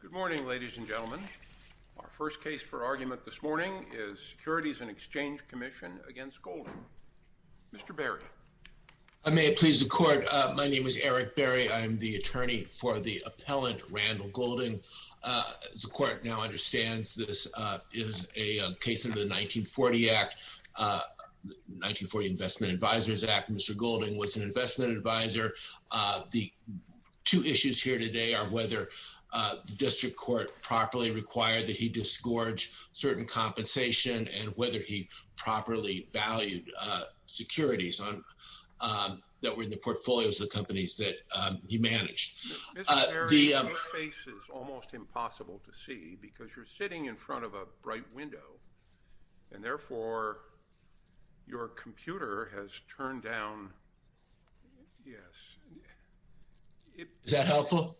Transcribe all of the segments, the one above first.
Good morning ladies and gentlemen. Our first case for argument this morning is Securities and Exchange Commission against Goulding. Mr. Berry. I may please the court. My name is Eric Berry. I'm the attorney for the appellant Randall Goulding. The court now understands this is a case under the 1940 Act, 1940 Investment Advisors Act. Mr. Goulding was an investment advisor. The two issues here today are the District Court properly required that he disgorge certain compensation and whether he properly valued securities that were in the portfolios of the companies that he managed. Mr. Berry, your face is almost impossible to see because you're sitting in front of a bright window and therefore your computer has turned down. Yes. Is that helpful?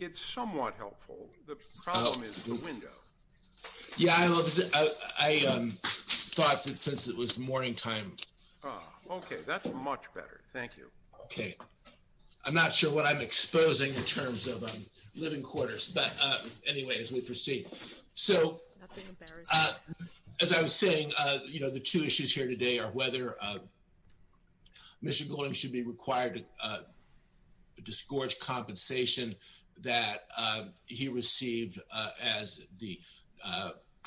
It's somewhat helpful. The problem is the window. Yeah, I thought that since it was morning time. Okay, that's much better. Thank you. Okay. I'm not sure what I'm exposing in terms of living quarters. But anyway, as we proceed. So, as I was saying, you know, the two issues here today are whether Mr. Goulding should be required to disgorge compensation that he received as the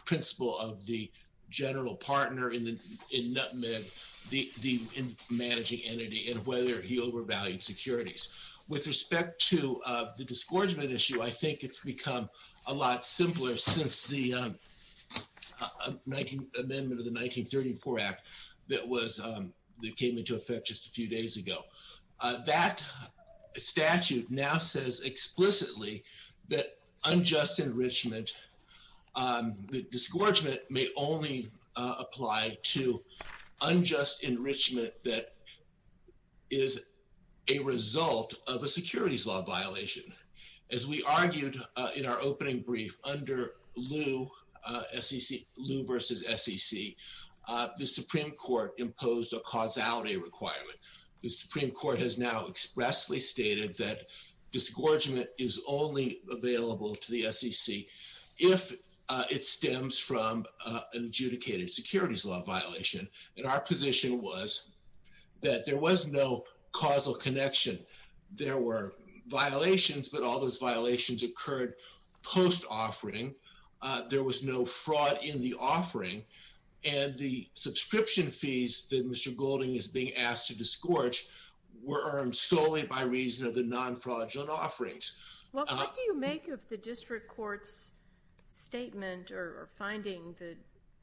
principle of the general partner in managing entity and whether he overvalued securities. With respect to the disgorgement issue, I think it's become a lot simpler since the amendment of the 1934 Act that came into effect just a few days ago. That statute now says explicitly that unjust enrichment, the disgorgement may only apply to a result of a securities law violation. As we argued in our opening brief under Lew v. SEC, the Supreme Court imposed a causality requirement. The Supreme Court has now expressly stated that disgorgement is only available to the SEC if it stems from an adjudicated securities law violation. And our position was that there was no causal connection. There were violations, but all those violations occurred post-offering. There was no fraud in the offering. And the subscription fees that Mr. Goulding is being asked to disgorge were earned solely by reason of the non-fraudulent offerings. Well, what do you make of the district court's statement or finding that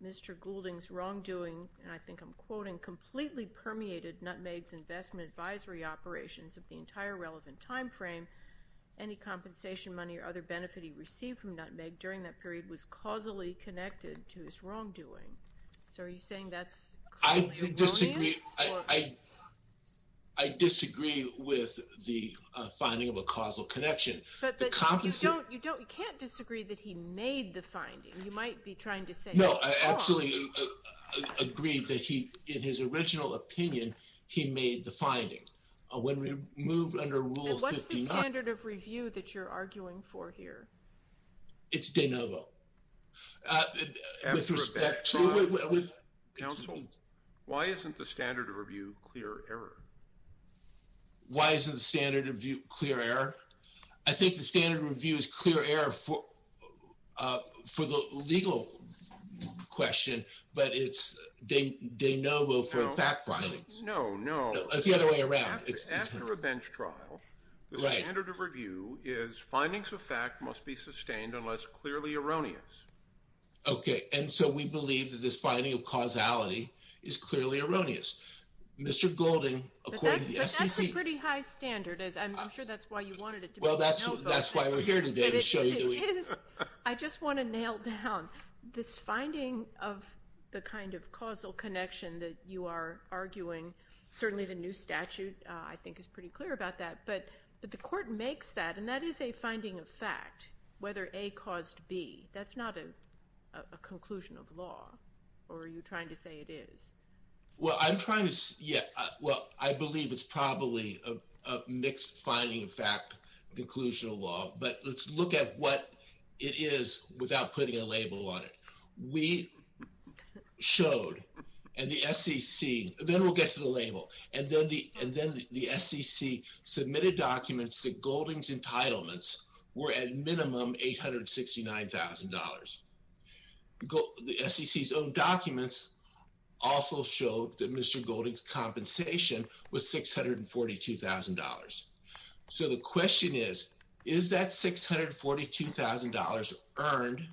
Mr. Goulding's wrongdoing, and I think I'm quoting, completely permeated Nutmeg's investment advisory operations of the entire relevant time frame? Any compensation money or other benefit he received from Nutmeg during that period was causally connected to his wrongdoing. So are you saying that's? I disagree. I disagree with the finding of a causal connection. But you don't, you don't, you can't disagree that he made the finding. You might be trying to say. No, I absolutely agree that he, in his original opinion, he made the finding. When we move under Rule 59. And what's the standard of review that you're arguing for here? It's de novo. Counsel, why isn't the standard of review clear error? Why isn't the standard of view clear error? I think the standard review is clear error for the legal question, but it's de novo for fact findings. No, no. It's the other way around. After a bench trial, the standard of review is findings of fact must be sustained unless clearly erroneous. Okay, and so we believe that this finding of causality is clearly erroneous. Mr. Goulding, according to the SEC. But that's a pretty high standard. I'm sure that's why you wanted it. Well, that's why we're here today. I just want to nail down this finding of the kind of causal connection that you are arguing. Certainly the new statute, I think, is pretty clear about that. But the court makes that, and that is a finding of fact, whether A caused B. That's not a conclusion of law. Or are you trying to say it is? Well, I'm trying to, yeah. Well, I believe it's probably a mixed finding of fact, conclusion of law. But let's look at what it is without putting a label on it. We showed, and the SEC, then we'll get to the label. And then the SEC submitted documents that showed that Mr. Goulding's compensation was $642,000. So the question is, is that $642,000 earned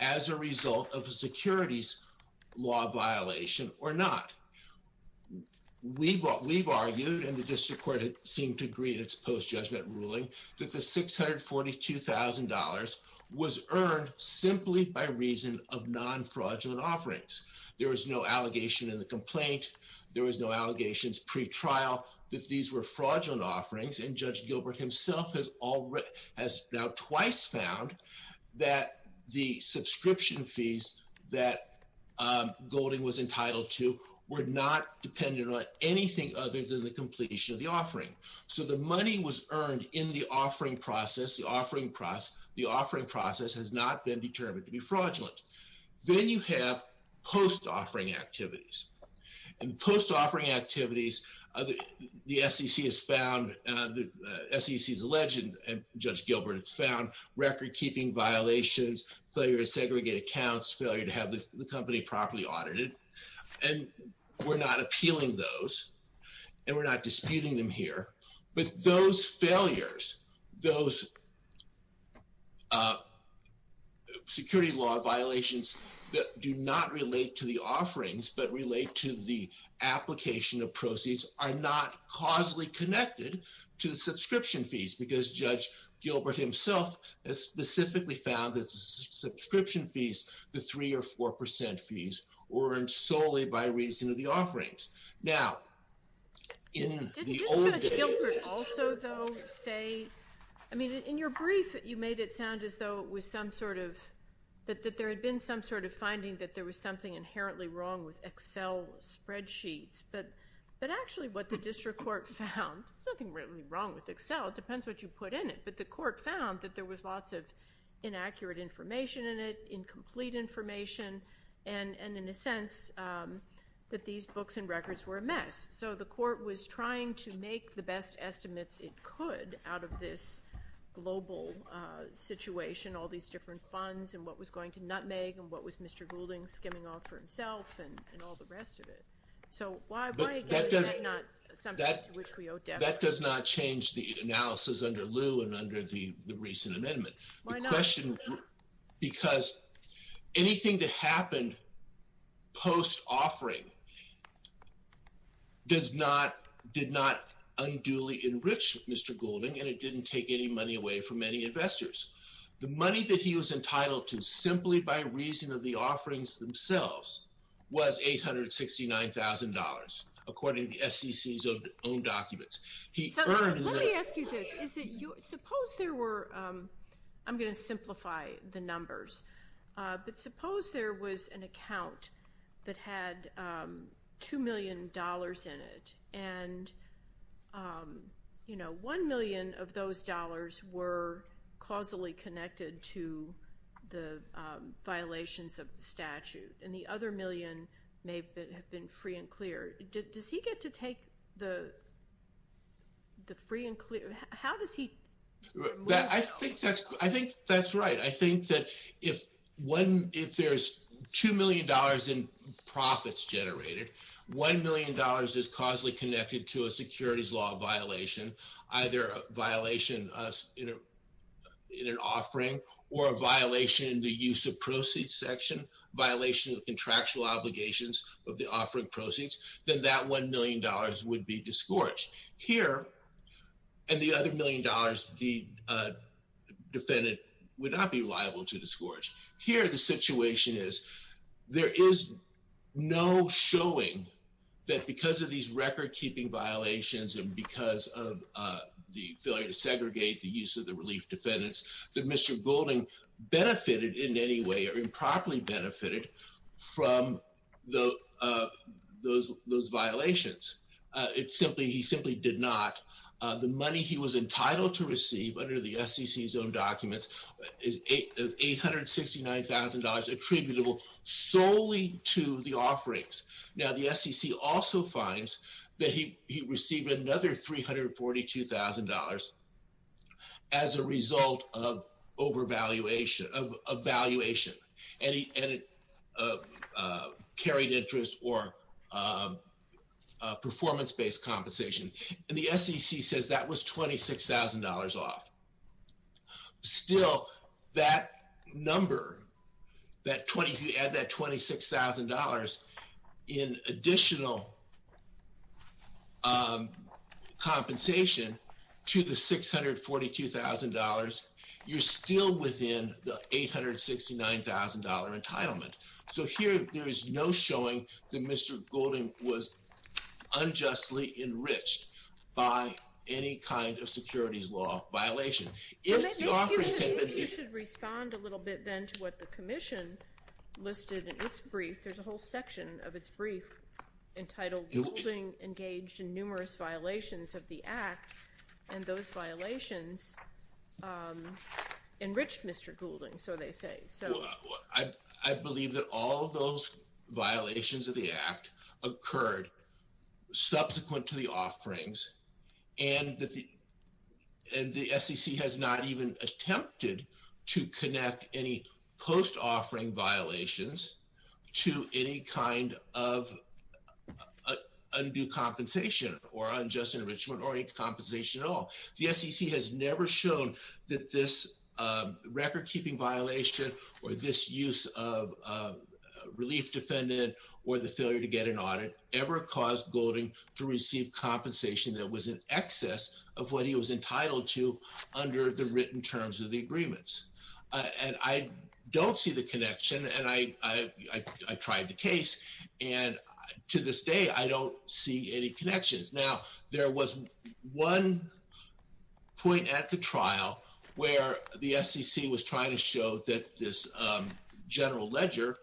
as a result of a securities law violation or not? We've argued, and the district court seemed to agree in its post-judgment ruling, that the $642,000 was earned simply by reason of non-fraudulent offerings. There was no allegation in the complaint. There was no allegations pre-trial that these were fraudulent offerings. And Judge Gilbert himself has now twice found that the subscription fees that Goulding was entitled to were not dependent on anything other than the completion of the offering. So the money was earned in the offering process. It has not been determined to be fraudulent. Then you have post-offering activities. And post-offering activities, the SEC has found, the SEC's alleged, and Judge Gilbert has found, record-keeping violations, failure to segregate accounts, failure to have the company properly audited. And we're not appealing those, and we're not disputing them here. But those failures, those security law violations that do not relate to the offerings, but relate to the application of proceeds, are not causally connected to the subscription fees, because Judge Gilbert himself has specifically found that the subscription fees, the 3 or 4 percent fees, were earned solely by reason of the offerings. Now, in the old days... Did Judge Gilbert also, though, say, I mean, in your brief, you made it sound as though it was some sort of, that there had been some sort of finding that there was something inherently wrong with Excel spreadsheets. But actually, what the district court found, there's nothing really wrong with Excel. It depends what you put in it. But the court found that there was lots of inaccurate information in it, incomplete information, and, in a sense, that these books and records were a mess. So the court was trying to make the best estimates it could out of this global situation, all these different funds, and what was going to nutmeg, and what was Mr. Goulding skimming off for himself, and all the rest of it. So why, again, is that not something to which we owe debt? That does not change the analysis under Liu and under the recent amendment. The question, because anything that happened post-offering did not unduly enrich Mr. Goulding, and it didn't take any money away from any investors. The money that he was entitled to, simply by reason of the offerings themselves, was $869,000, according to the SEC's own documents. He earned... So let me ask you this. Suppose there were... I'm going to simplify the numbers. But suppose there was an account that had $2 million in it, and $1 million of those dollars were causally connected to the violations of the statute, and the other million may have been free and clear. Does he get to take the free and clear... How does he... I think that's right. I think that if there's $2 million in profits generated, $1 million is causally connected to a securities law violation, either a violation in an offering, or a violation in the use of proceeds section, violation of contractual obligations of the offering proceeds, then that $1 million would be disgorged. Here, and the other million dollars, the defendant would not be liable to disgorge. Here, the situation is, there is no showing that because of these record-keeping violations, and because of the failure to segregate the use of the relief defendants, that Mr. Goulding benefited in any way, or improperly benefited from those violations. He simply did not. The money he was entitled to receive under the SEC's own documents is $869,000 attributable solely to the offerings. Now, the SEC also finds that he received another $342,000 as a result of overvaluation, of valuation, and carried interest or performance-based compensation. And the SEC says that was $26,000 off. Still, that number, that $26,000 in additional compensation to the $642,000, you're still within the $869,000 entitlement. So here, there is no showing that Mr. Goulding was unjustly enriched by any kind of securities law violation. You should respond a little bit then to what the commission listed in its brief. There's a whole section of its brief entitled, Goulding engaged in numerous violations of the Act, and those violations enriched Mr. Goulding, so they say. I believe that all those violations of the Act occurred subsequent to the offerings, and the SEC has not even attempted to connect any post-offering violations to any kind of undue compensation, or unjust enrichment, or any compensation at all. The SEC has never shown that this record-keeping violation, or this use of a relief defendant, or the failure to get an audit ever caused Goulding to receive compensation that was in excess of what he was entitled to under the written terms of the agreements. And I don't see the connection, and I tried the case, and to this day, I don't see any connections. Now, there was one point at the trial where the SEC was trying to show that this general ledger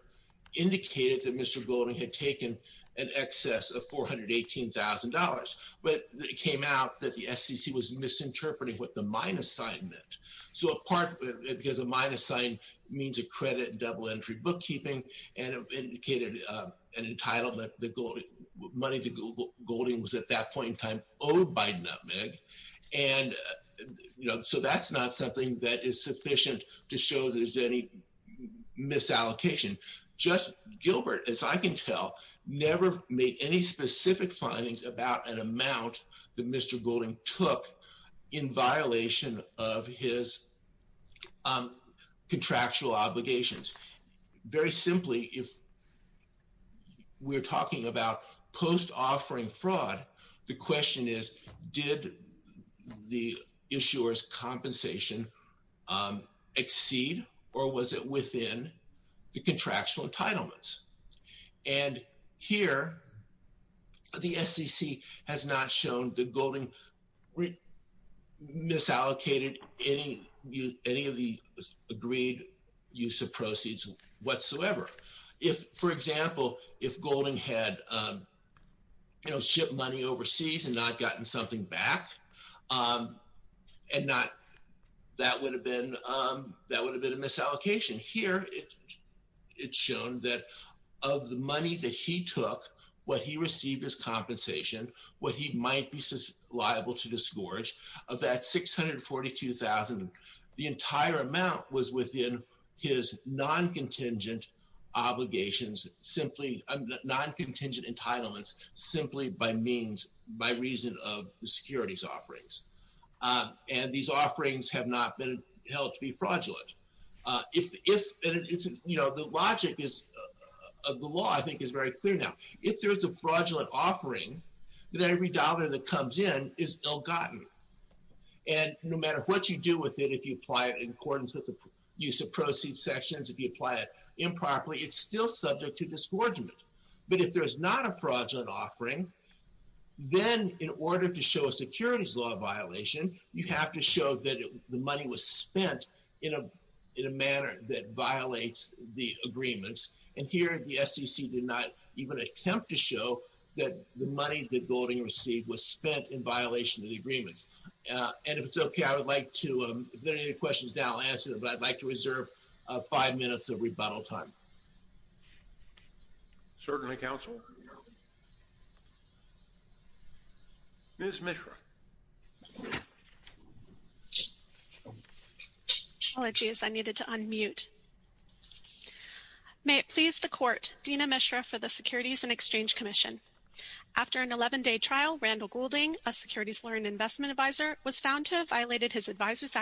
indicated that Mr. Goulding had taken in excess of $418,000, but it came out that the SEC was misinterpreting what the minus sign meant. So a part, because a minus sign means a an entitlement that money to Goulding was at that point in time owed by NMIG. And, you know, so that's not something that is sufficient to show there's any misallocation. Just Gilbert, as I can tell, never made any specific findings about an amount that Mr. Goulding was entitled to, and that was a violation of his contractual obligations. Very simply, if we're talking about post-offering fraud, the question is, did the issuer's compensation exceed, or was it within the contractual entitlements? And here, the SEC has not shown that Goulding misallocated any of the agreed use of proceeds whatsoever. If, for example, if Goulding had, you know, shipped money overseas and not gotten something back, and not, that would have been a misallocation. Here, it's shown that of the money that he took, what he received as compensation, what he might be liable to disgorge, of that $642,000, the entire amount was within his non-contingent obligations, simply non-contingent entitlements, simply by means, by reason of the SEC's offerings. And these offerings have not been held to be fraudulent. If, you know, the logic is, of the law, I think is very clear now. If there's a fraudulent offering, then every dollar that comes in is ill-gotten. And no matter what you do with it, if you apply it in accordance with the use of proceeds sections, if you apply it improperly, it's still subject to disgorgement. But if there's not a fraudulent offering, then in order to show a securities law violation, you have to show that the money was spent in a manner that violates the agreements. And here, the SEC did not even attempt to show that the money that Goulding received was spent in violation of the agreements. And if it's okay, I would like to, if there are any questions now, I'll answer them, but I'd like to reserve five minutes of rebuttal time. Certainly, counsel. Ms. Mishra. Apologies, I needed to unmute. May it please the court, Dina Mishra for the Securities and Exchange Commission. After an 11-day trial, Randall Goulding, a Securities Lawyer and Investment Advisor, was found to have violated his investor's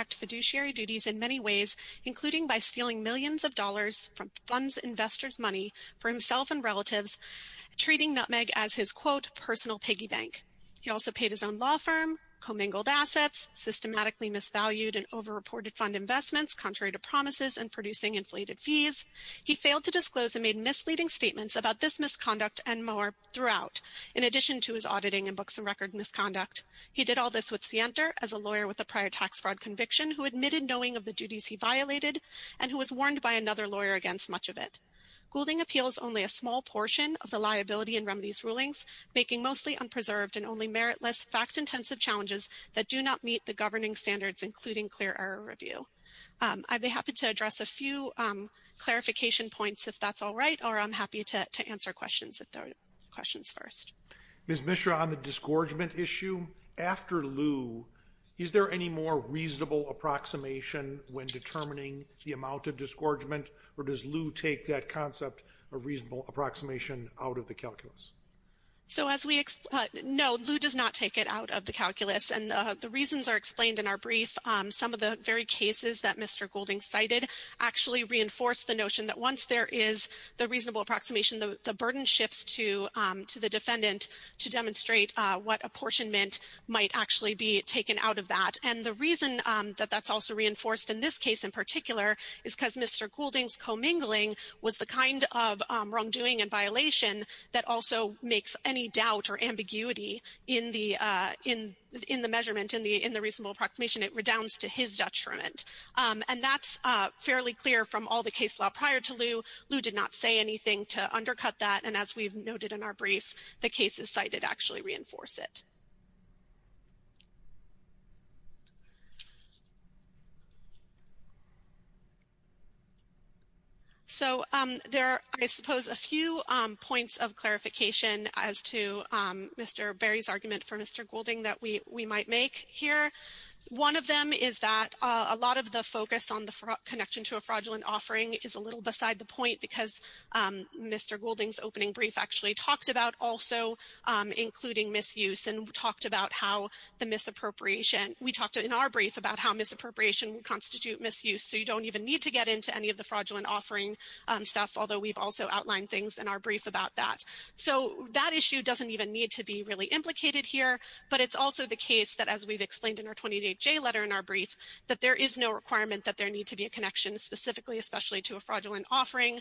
money for himself and relatives, treating Nutmeg as his quote, personal piggy bank. He also paid his own law firm, commingled assets, systematically misvalued and over-reported fund investments, contrary to promises and producing inflated fees. He failed to disclose and made misleading statements about this misconduct and more throughout, in addition to his auditing and books and record misconduct. He did all this with Sienter as a lawyer with a prior tax fraud conviction who admitted knowing of the duties he violated, and who was warned by another lawyer against much of it. Goulding appeals only a small portion of the liability and remedies rulings, making mostly unpreserved and only meritless fact-intensive challenges that do not meet the governing standards, including clear error review. I'd be happy to address a few clarification points if that's all right, or I'm happy to answer questions if there are questions first. Ms. Mishra, on the disgorgement issue, after lieu, is there any more reasonable approximation when determining the amount of disgorgement, or does lieu take that concept of reasonable approximation out of the calculus? So as we know, lieu does not take it out of the calculus, and the reasons are explained in our brief. Some of the very cases that Mr. Goulding cited actually reinforce the notion that once there is the reasonable approximation, the burden shifts to the defendant to demonstrate what apportionment might actually be taken out of that. And the in this case in particular is because Mr. Goulding's commingling was the kind of wrongdoing and violation that also makes any doubt or ambiguity in the measurement, in the reasonable approximation, it redounds to his detriment. And that's fairly clear from all the case law prior to lieu. Lieu did not say anything to undercut that, and as we've noted in our brief, the cases cited actually reinforce it. So there are, I suppose, a few points of clarification as to Mr. Berry's argument for Mr. Goulding that we might make here. One of them is that a lot of the focus on the connection to a fraudulent offering is a little beside the point because Mr. Goulding's opening brief actually talked about also including misuse and talked about how the misappropriation, we talked in our brief about how misappropriation would constitute misuse. So you don't even need to get into any of the fraudulent offering stuff, although we've also outlined things in our brief about that. So that issue doesn't even need to be really implicated here, but it's also the case that as we've explained in our 28J letter in our brief, that there is no requirement that there need to be a connection specifically, especially to a fraudulent offering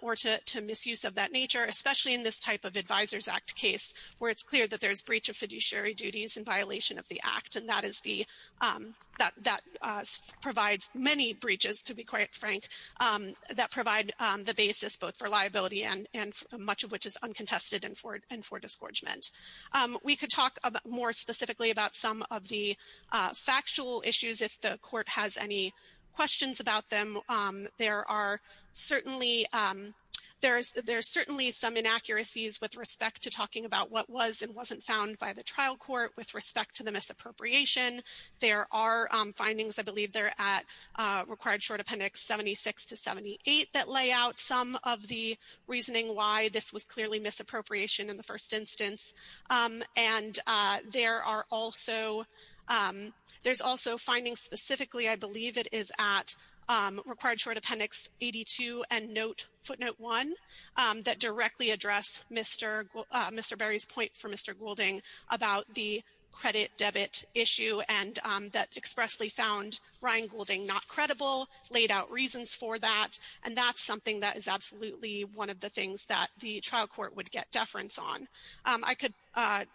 or to misuse of that especially in this type of Advisors Act case where it's clear that there's breach of fiduciary duties in violation of the Act, and that provides many breaches, to be quite frank, that provide the basis both for liability and much of which is uncontested and for disgorgement. We could talk more specifically about some of the factual issues if the court has any questions about them. There are certainly some inaccuracies with respect to talking about what was and wasn't found by the trial court with respect to the misappropriation. There are findings, I believe they're at Required Short Appendix 76 to 78, that lay out some of the reasoning why this was clearly misappropriation in the first instance, and there are also there's also findings specifically, I believe it is at Required Short Appendix 82 and Footnote 1, that directly address Mr. Berry's point for Mr. Goulding about the credit debit issue and that expressly found Ryan Goulding not credible, laid out reasons for that, and that's something that is absolutely one of the things that the trial court would get on. I could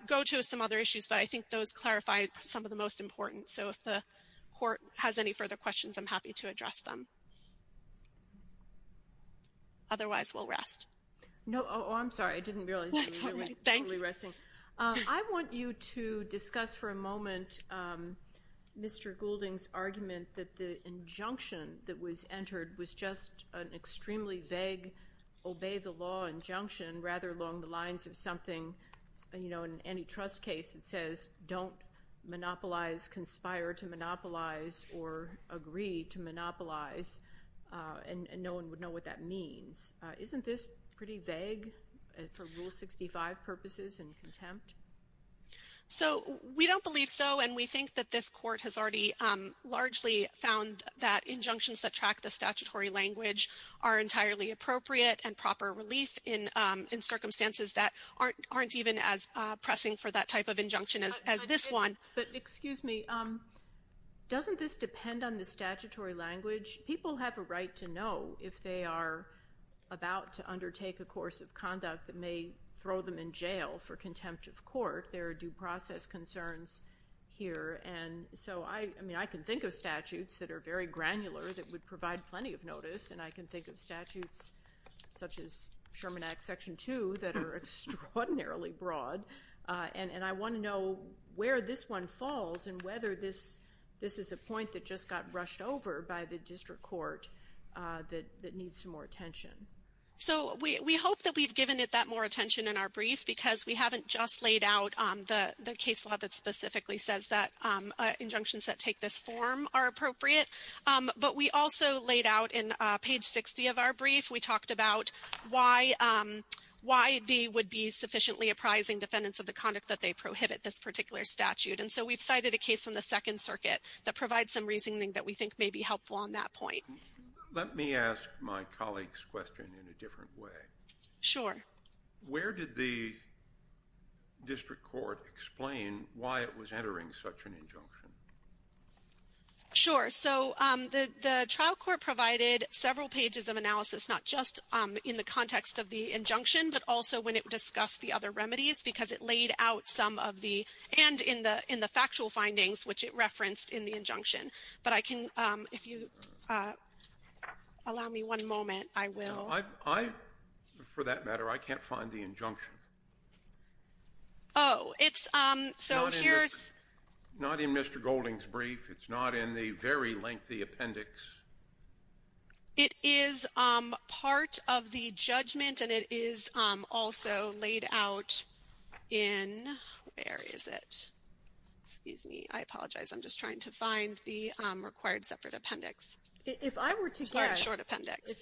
go to some other issues, but I think those clarify some of the most important, so if the court has any further questions, I'm happy to address them. Otherwise, we'll rest. No, oh, I'm sorry, I didn't realize you were resting. I want you to discuss for a moment Mr. Goulding's argument that the injunction that was entered was just an extremely vague obey the law injunction, rather along the lines of something, you know, in any trust case that says don't monopolize, conspire to monopolize, or agree to monopolize, and no one would know what that means. Isn't this pretty vague for Rule 65 purposes and contempt? So we don't believe so, and we think that this court has already largely found that appropriate and proper relief in circumstances that aren't even as pressing for that type of injunction as this one. But excuse me, doesn't this depend on the statutory language? People have a right to know if they are about to undertake a course of conduct that may throw them in jail for contempt of court. There are due process concerns here, and so I mean, I can think of statutes that are very granular that would provide plenty of notice, and I can think of statutes such as Sherman Act Section 2 that are extraordinarily broad, and I want to know where this one falls and whether this is a point that just got rushed over by the district court that needs some more attention. So we hope that we've given it that more attention in our brief because we haven't just laid out the case law that specifically says that injunctions that take this form are appropriate, but we also laid out in page 60 of our brief we talked about why they would be sufficiently apprising defendants of the conduct that they prohibit this particular statute. And so we've cited a case from the Second Circuit that provides some reasoning that we think may be helpful on that point. Let me ask my colleague's question in a different way. Sure. Where did the district court explain why it was entering such an injunction? Sure. So the trial court provided several pages of analysis, not just in the context of the injunction, but also when it discussed the other remedies, because it laid out some of the and in the factual findings, which it referenced in the injunction. But I can, if you allow me one moment, I will. I, for that matter, I can't find the injunction. Oh, it's so here's Not in Mr. Golding's brief, but it's in Mr. Golding's brief. It's not in the very lengthy appendix. It is part of the judgment, and it is also laid out in, where is it? Excuse me. I apologize. I'm just trying to find the required separate appendix. If I were to guess,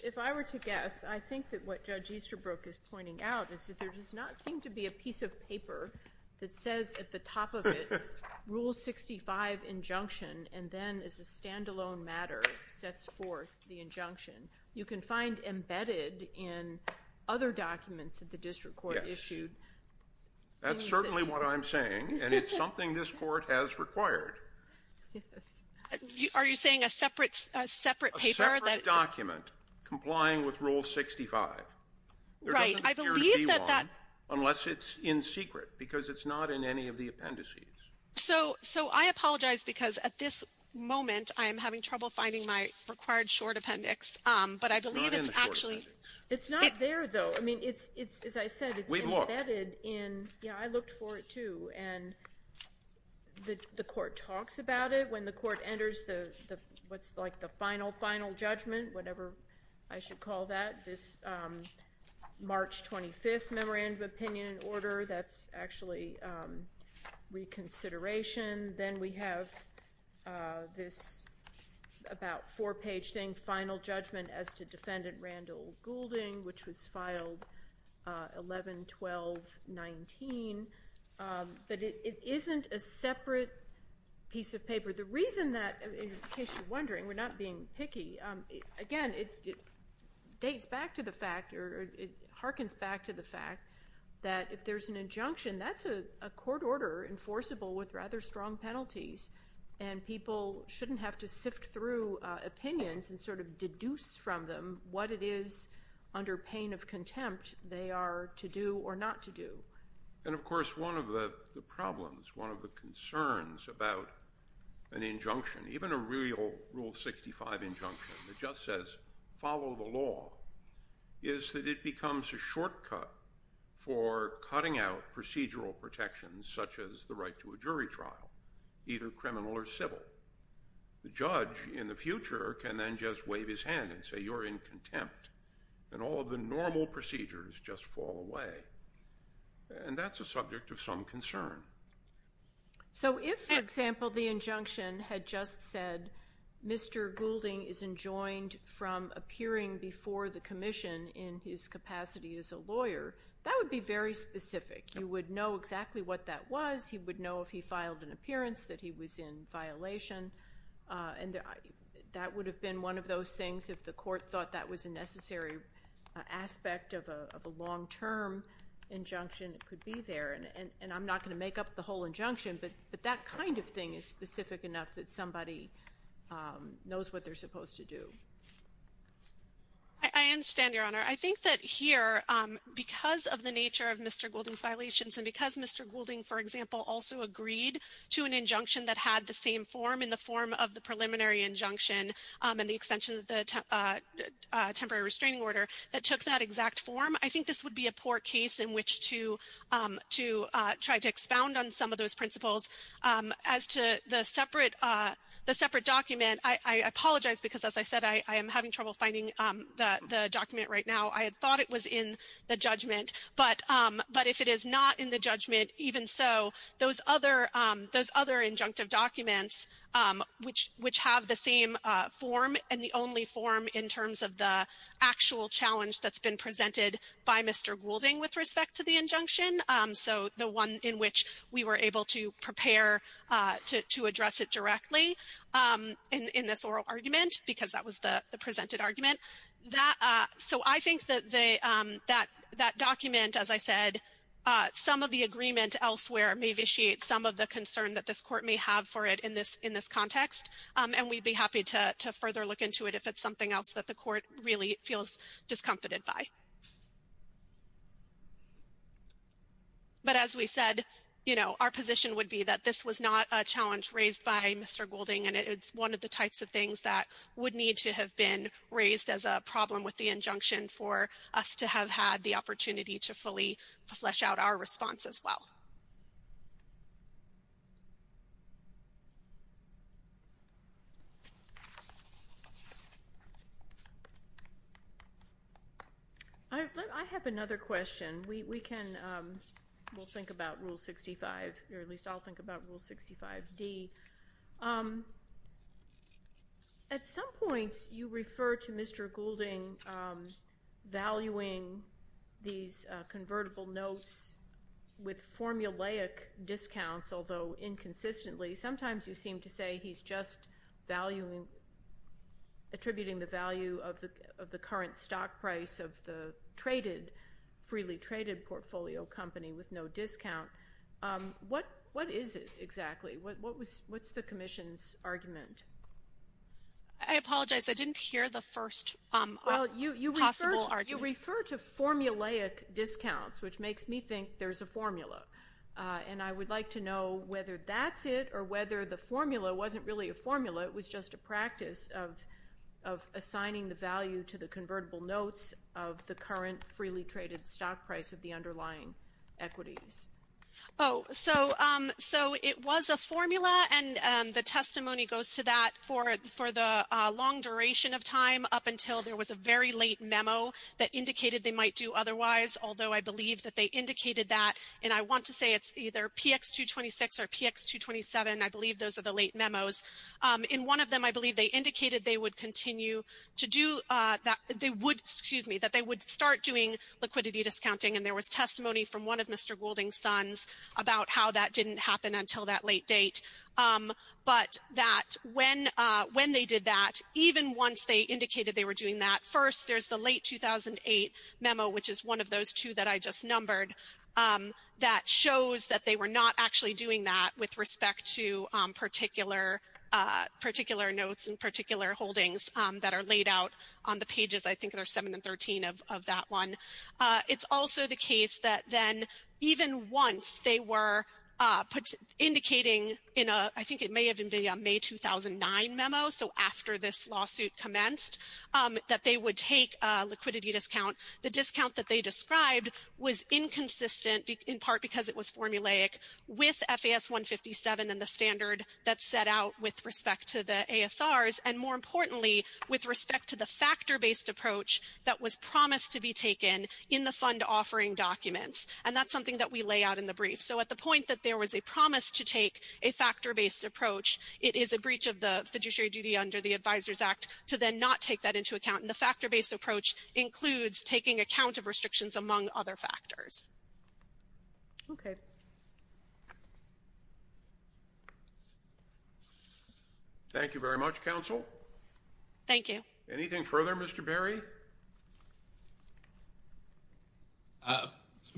if I were to guess, I think that what Judge Easterbrook is pointing out is that there does not seem to be a piece of paper that says at the top of it Rule 65 injunction, and then as a stand-alone matter, sets forth the injunction. You can find embedded in other documents that the district court issued. Yes. That's certainly what I'm saying, and it's something this Court has required. Yes. Are you saying a separate, a separate paper? A separate document complying with Rule 65. Right. I believe that that Unless it's in secret, because it's not in any of the appendices. So I apologize, because at this moment, I am having trouble finding my required short appendix. But I believe it's actually It's not there, though. I mean, it's, as I said, it's embedded in Yeah, I looked for it, too. And the Court talks about it when the Court enters the what's like the final, final judgment, whatever I should call that, this March 25th memorandum of opinion in order. That's actually reconsideration. Then we have this about four-page thing, final judgment as to defendant Randall Goulding, which was filed 11-12-19. The reason that, in case you're wondering, we're not being picky. Again, it dates back to the fact, or it harkens back to the fact that if there's an injunction, that's a court order enforceable with rather strong penalties, and people shouldn't have to sift through opinions and sort of deduce from them what it is, under pain of contempt, they are to do or not to do. And, of course, one of the problems, one of the concerns about an injunction, even a real Rule 65 injunction that just says follow the law, is that it becomes a shortcut for cutting out procedural protections, such as the right to a jury trial, either criminal or civil. The judge, in the future, can then just wave his hand and say you're in contempt, and all of the normal procedures just fall away. And that's a subject of some concern. So if, for example, the injunction had just said, Mr. Goulding is enjoined from appearing before the commission in his capacity as a lawyer, that would be very specific. You would know exactly what that was. He would know if he filed an appearance that he was in violation. And that would have been one of those things, if the court thought that was a necessary aspect of a long-term injunction, it could be there. And I'm not going to make up the whole injunction, but that kind of thing is specific enough that somebody knows what they're supposed to do. I understand, Your Honor. I think that here, because of the nature of Mr. Goulding's violations and because Mr. Goulding, for example, also agreed to an injunction that had the same form in the form of the preliminary injunction and the extension of the temporary restraining order that took that exact form, I think this would be a poor case in which to try to expound on some of those principles. As to the separate document, I apologize because, as I said, I am having trouble finding the document right now. I had thought it was in the judgment. But if it is not in the judgment, even so, those other injunctive documents, which have the same form and the only form in terms of the actual challenge that's been presented by Mr. Goulding with respect to the injunction, so the one in which we were able to prepare to address it directly in this oral argument, because that was the presented argument. So I think that document, as I said, some of the agreement elsewhere may vitiate some of the concern that this court may have for it in this context. And we'd be happy to further look into it if it's something else that the court really feels discomfited by. But as we said, our position would be that this was not a challenge raised by Mr. Goulding, and it's one of the types of things that would need to have been raised as a problem with the injunction for us to have had the opportunity to fully flesh out our response as well. I have another question. We'll think about Rule 65, or at least I'll think about Rule 65D. At some point, you refer to Mr. Goulding valuing these convertible notes with formulaic discounts, although inconsistently, sometimes you seem to say he's just attributing the value of the current stock price of the freely traded portfolio company with no discount. What is it exactly? What's the commission's argument? I apologize. I didn't hear the first possible argument. Well, you refer to formulaic discounts, which makes me think there's a formula. And I would like to know whether that's it or whether the formula wasn't really a formula. It was just a practice of assigning the value to the convertible notes of the current freely traded stock price of the underlying equities. Oh, so it was a formula, and the testimony goes to that for the long duration of time, up until there was a very late memo that indicated they might do otherwise, although I believe that they indicated that. And I want to say it's either PX226 or PX227. I believe those are the late memos. In one of them, I believe they indicated they would continue to do that. They would, excuse me, that they would start doing liquidity discounting, and there was testimony from one of Mr. Goulding's sons about how that didn't happen until that late date. But that when they did that, even once they indicated they were doing that, first, there's the late 2008 memo, which is one of those two that I just numbered, that shows that they were not actually doing that with respect to particular notes and particular holdings that are laid out on the pages, I think, there are 7 and 13 of that one. It's also the case that then even once they were indicating in a, I think it may have been the May 2009 memo, so after this lawsuit commenced, that they would take a liquidity discount. The discount that they described was inconsistent in part because it was formulaic with FAS-157 and the standard that's set out with respect to the ASRs, and more importantly, with respect to the factor-based approach that was promised to be taken in the fund offering documents. And that's something that we lay out in the brief. So at the point that there was a promise to take a factor-based approach, it is a breach of the fiduciary duty under the Advisors Act to then not take that into account. And the factor-based approach includes taking account of restrictions among other factors. Okay. Thank you very much, Counsel. Thank you. Anything further, Mr. Berry?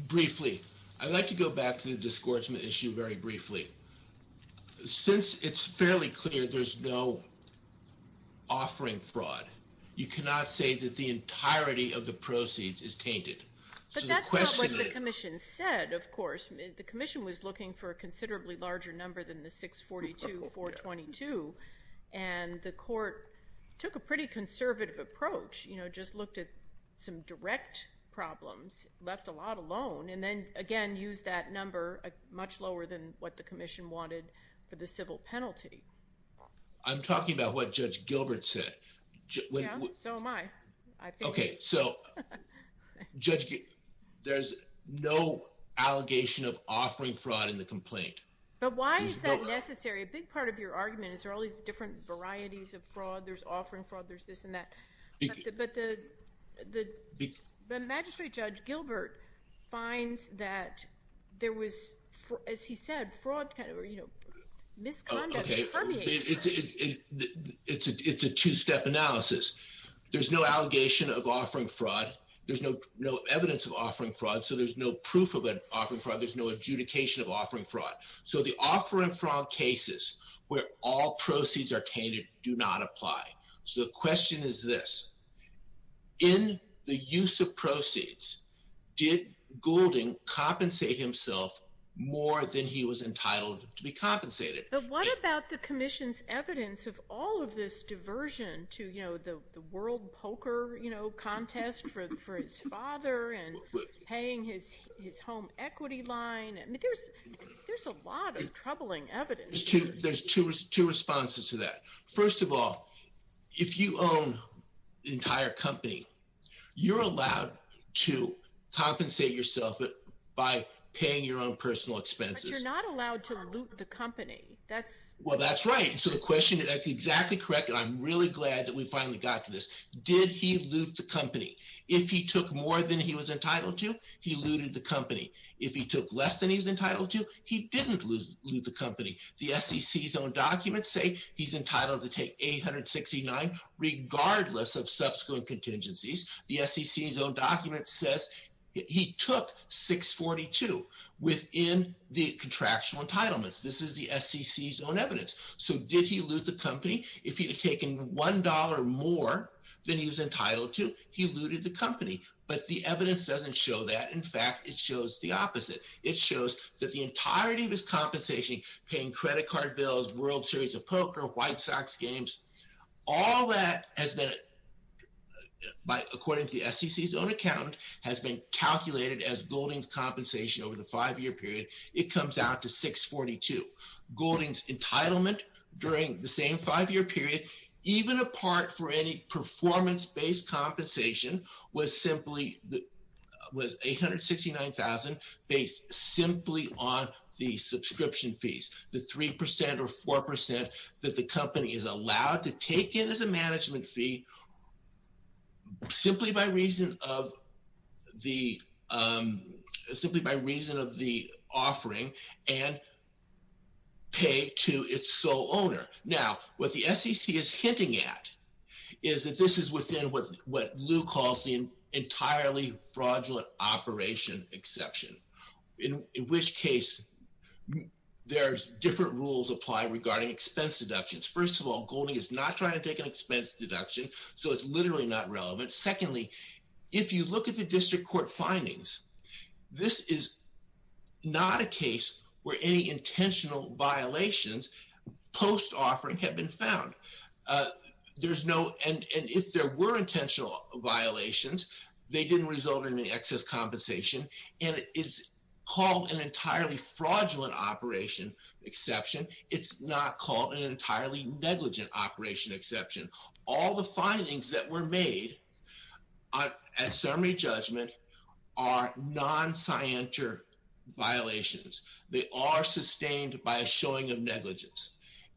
Briefly, I'd like to go back to the disgorgement issue very briefly. Since it's fairly clear there's no offering fraud, you cannot say that the entirety of the proceeds is tainted. But that's not what the Commission said, of course. The Commission was looking for a considerably larger number than the 642-422, and the Court took a pretty conservative approach, you know, just looked at some direct problems, left a lot alone, and then, again, used that number much lower than what the Commission wanted for the civil penalty. I'm talking about what Judge Gilbert said. Yeah, so am I. Okay. So Judge, there's no allegation of offering fraud in the complaint. But why is that necessary? A big part of your argument is there are all these different varieties of fraud. There's offering fraud. There's this and that. But the Magistrate Judge Gilbert finds that there was, as he said, fraud kind of, you know, misconduct permeates. It's a two-step analysis. There's no allegation of offering fraud. There's no evidence of offering fraud, so there's no proof of offering fraud. There's no adjudication of offering fraud. So the offer and fraud cases where all proceeds are tainted do not apply. So the question is this, in the use of proceeds, did Goulding compensate himself more than he was entitled to be compensated? But what about the Commission's evidence of all of this diversion to, you know, the world poker, you know, contest for his father and paying his home equity line? I mean, there's a lot of troubling evidence. There's two responses to that. First of all, if you own an entire company, you're allowed to compensate yourself by paying your own personal expenses. But you're not allowed to loot the company. Well, that's right. So the question, that's exactly correct, and I'm really glad that we finally got to this. Did he loot the company? If he took more than he was entitled to, he looted the company. If he took less than he was entitled to, he didn't loot the company. The SEC's own documents say he's entitled to take 869, regardless of subsequent contingencies. The SEC's own document says he took 642 within the contractual entitlements. This is the SEC's own evidence. So did he loot the company? If he had taken $1 more than he was entitled to, he looted the company. But the evidence doesn't show that. In fact, it shows the opposite. It shows that the entirety of his compensation, paying credit card bills, World Series of Poker, White Sox games, all that has been, according to the SEC's own account, has been calculated as Golding's compensation over the five-year period. It comes out to 642. Golding's entitlement during the same five-year period, even apart for any performance-based compensation, was 869,000 based simply on the subscription fees, the 3% or 4% that the company is allowed to take in as a management fee simply by reason of the offering and pay to its sole owner. Now, what the SEC is hinting at is that this is within what Lou calls the entirely fraudulent operation exception, in which case there's different rules applied regarding expense deductions. First of all, Golding is not trying to take an expense deduction, so it's literally not relevant. Secondly, if you look at the district court findings, this is not a case where any intentional violations post-offering have been found. There's no – and if there were intentional violations, they didn't result in any excess compensation, and it's called an entirely fraudulent operation exception. It's not called an entirely negligent operation exception. All the findings that were made at summary judgment are non-scienter violations. They are sustained by a showing of negligence.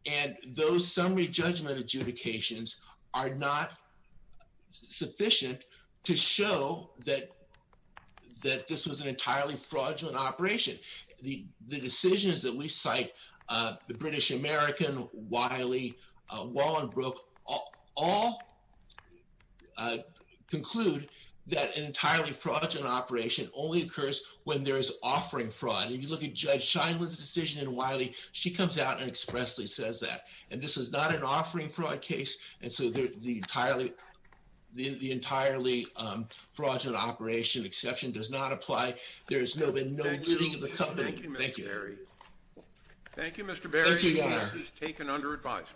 And those summary judgment adjudications are not sufficient to show that this was an entirely fraudulent operation. The decisions that we cite, the British American, Wiley, Wallenbrook, all conclude that an entirely fraudulent operation only occurs when there is offering fraud. If you look at Judge Scheinman's decision in Wiley, she comes out and expressly says that. And this is not an offering fraud case, and so the entirely fraudulent operation exception does not apply. There has been no bidding of the company. Thank you. Thank you, Mr. Berry. Thank you, Mr. Berry. Thank you, Your Honor. This case is taken under advisement.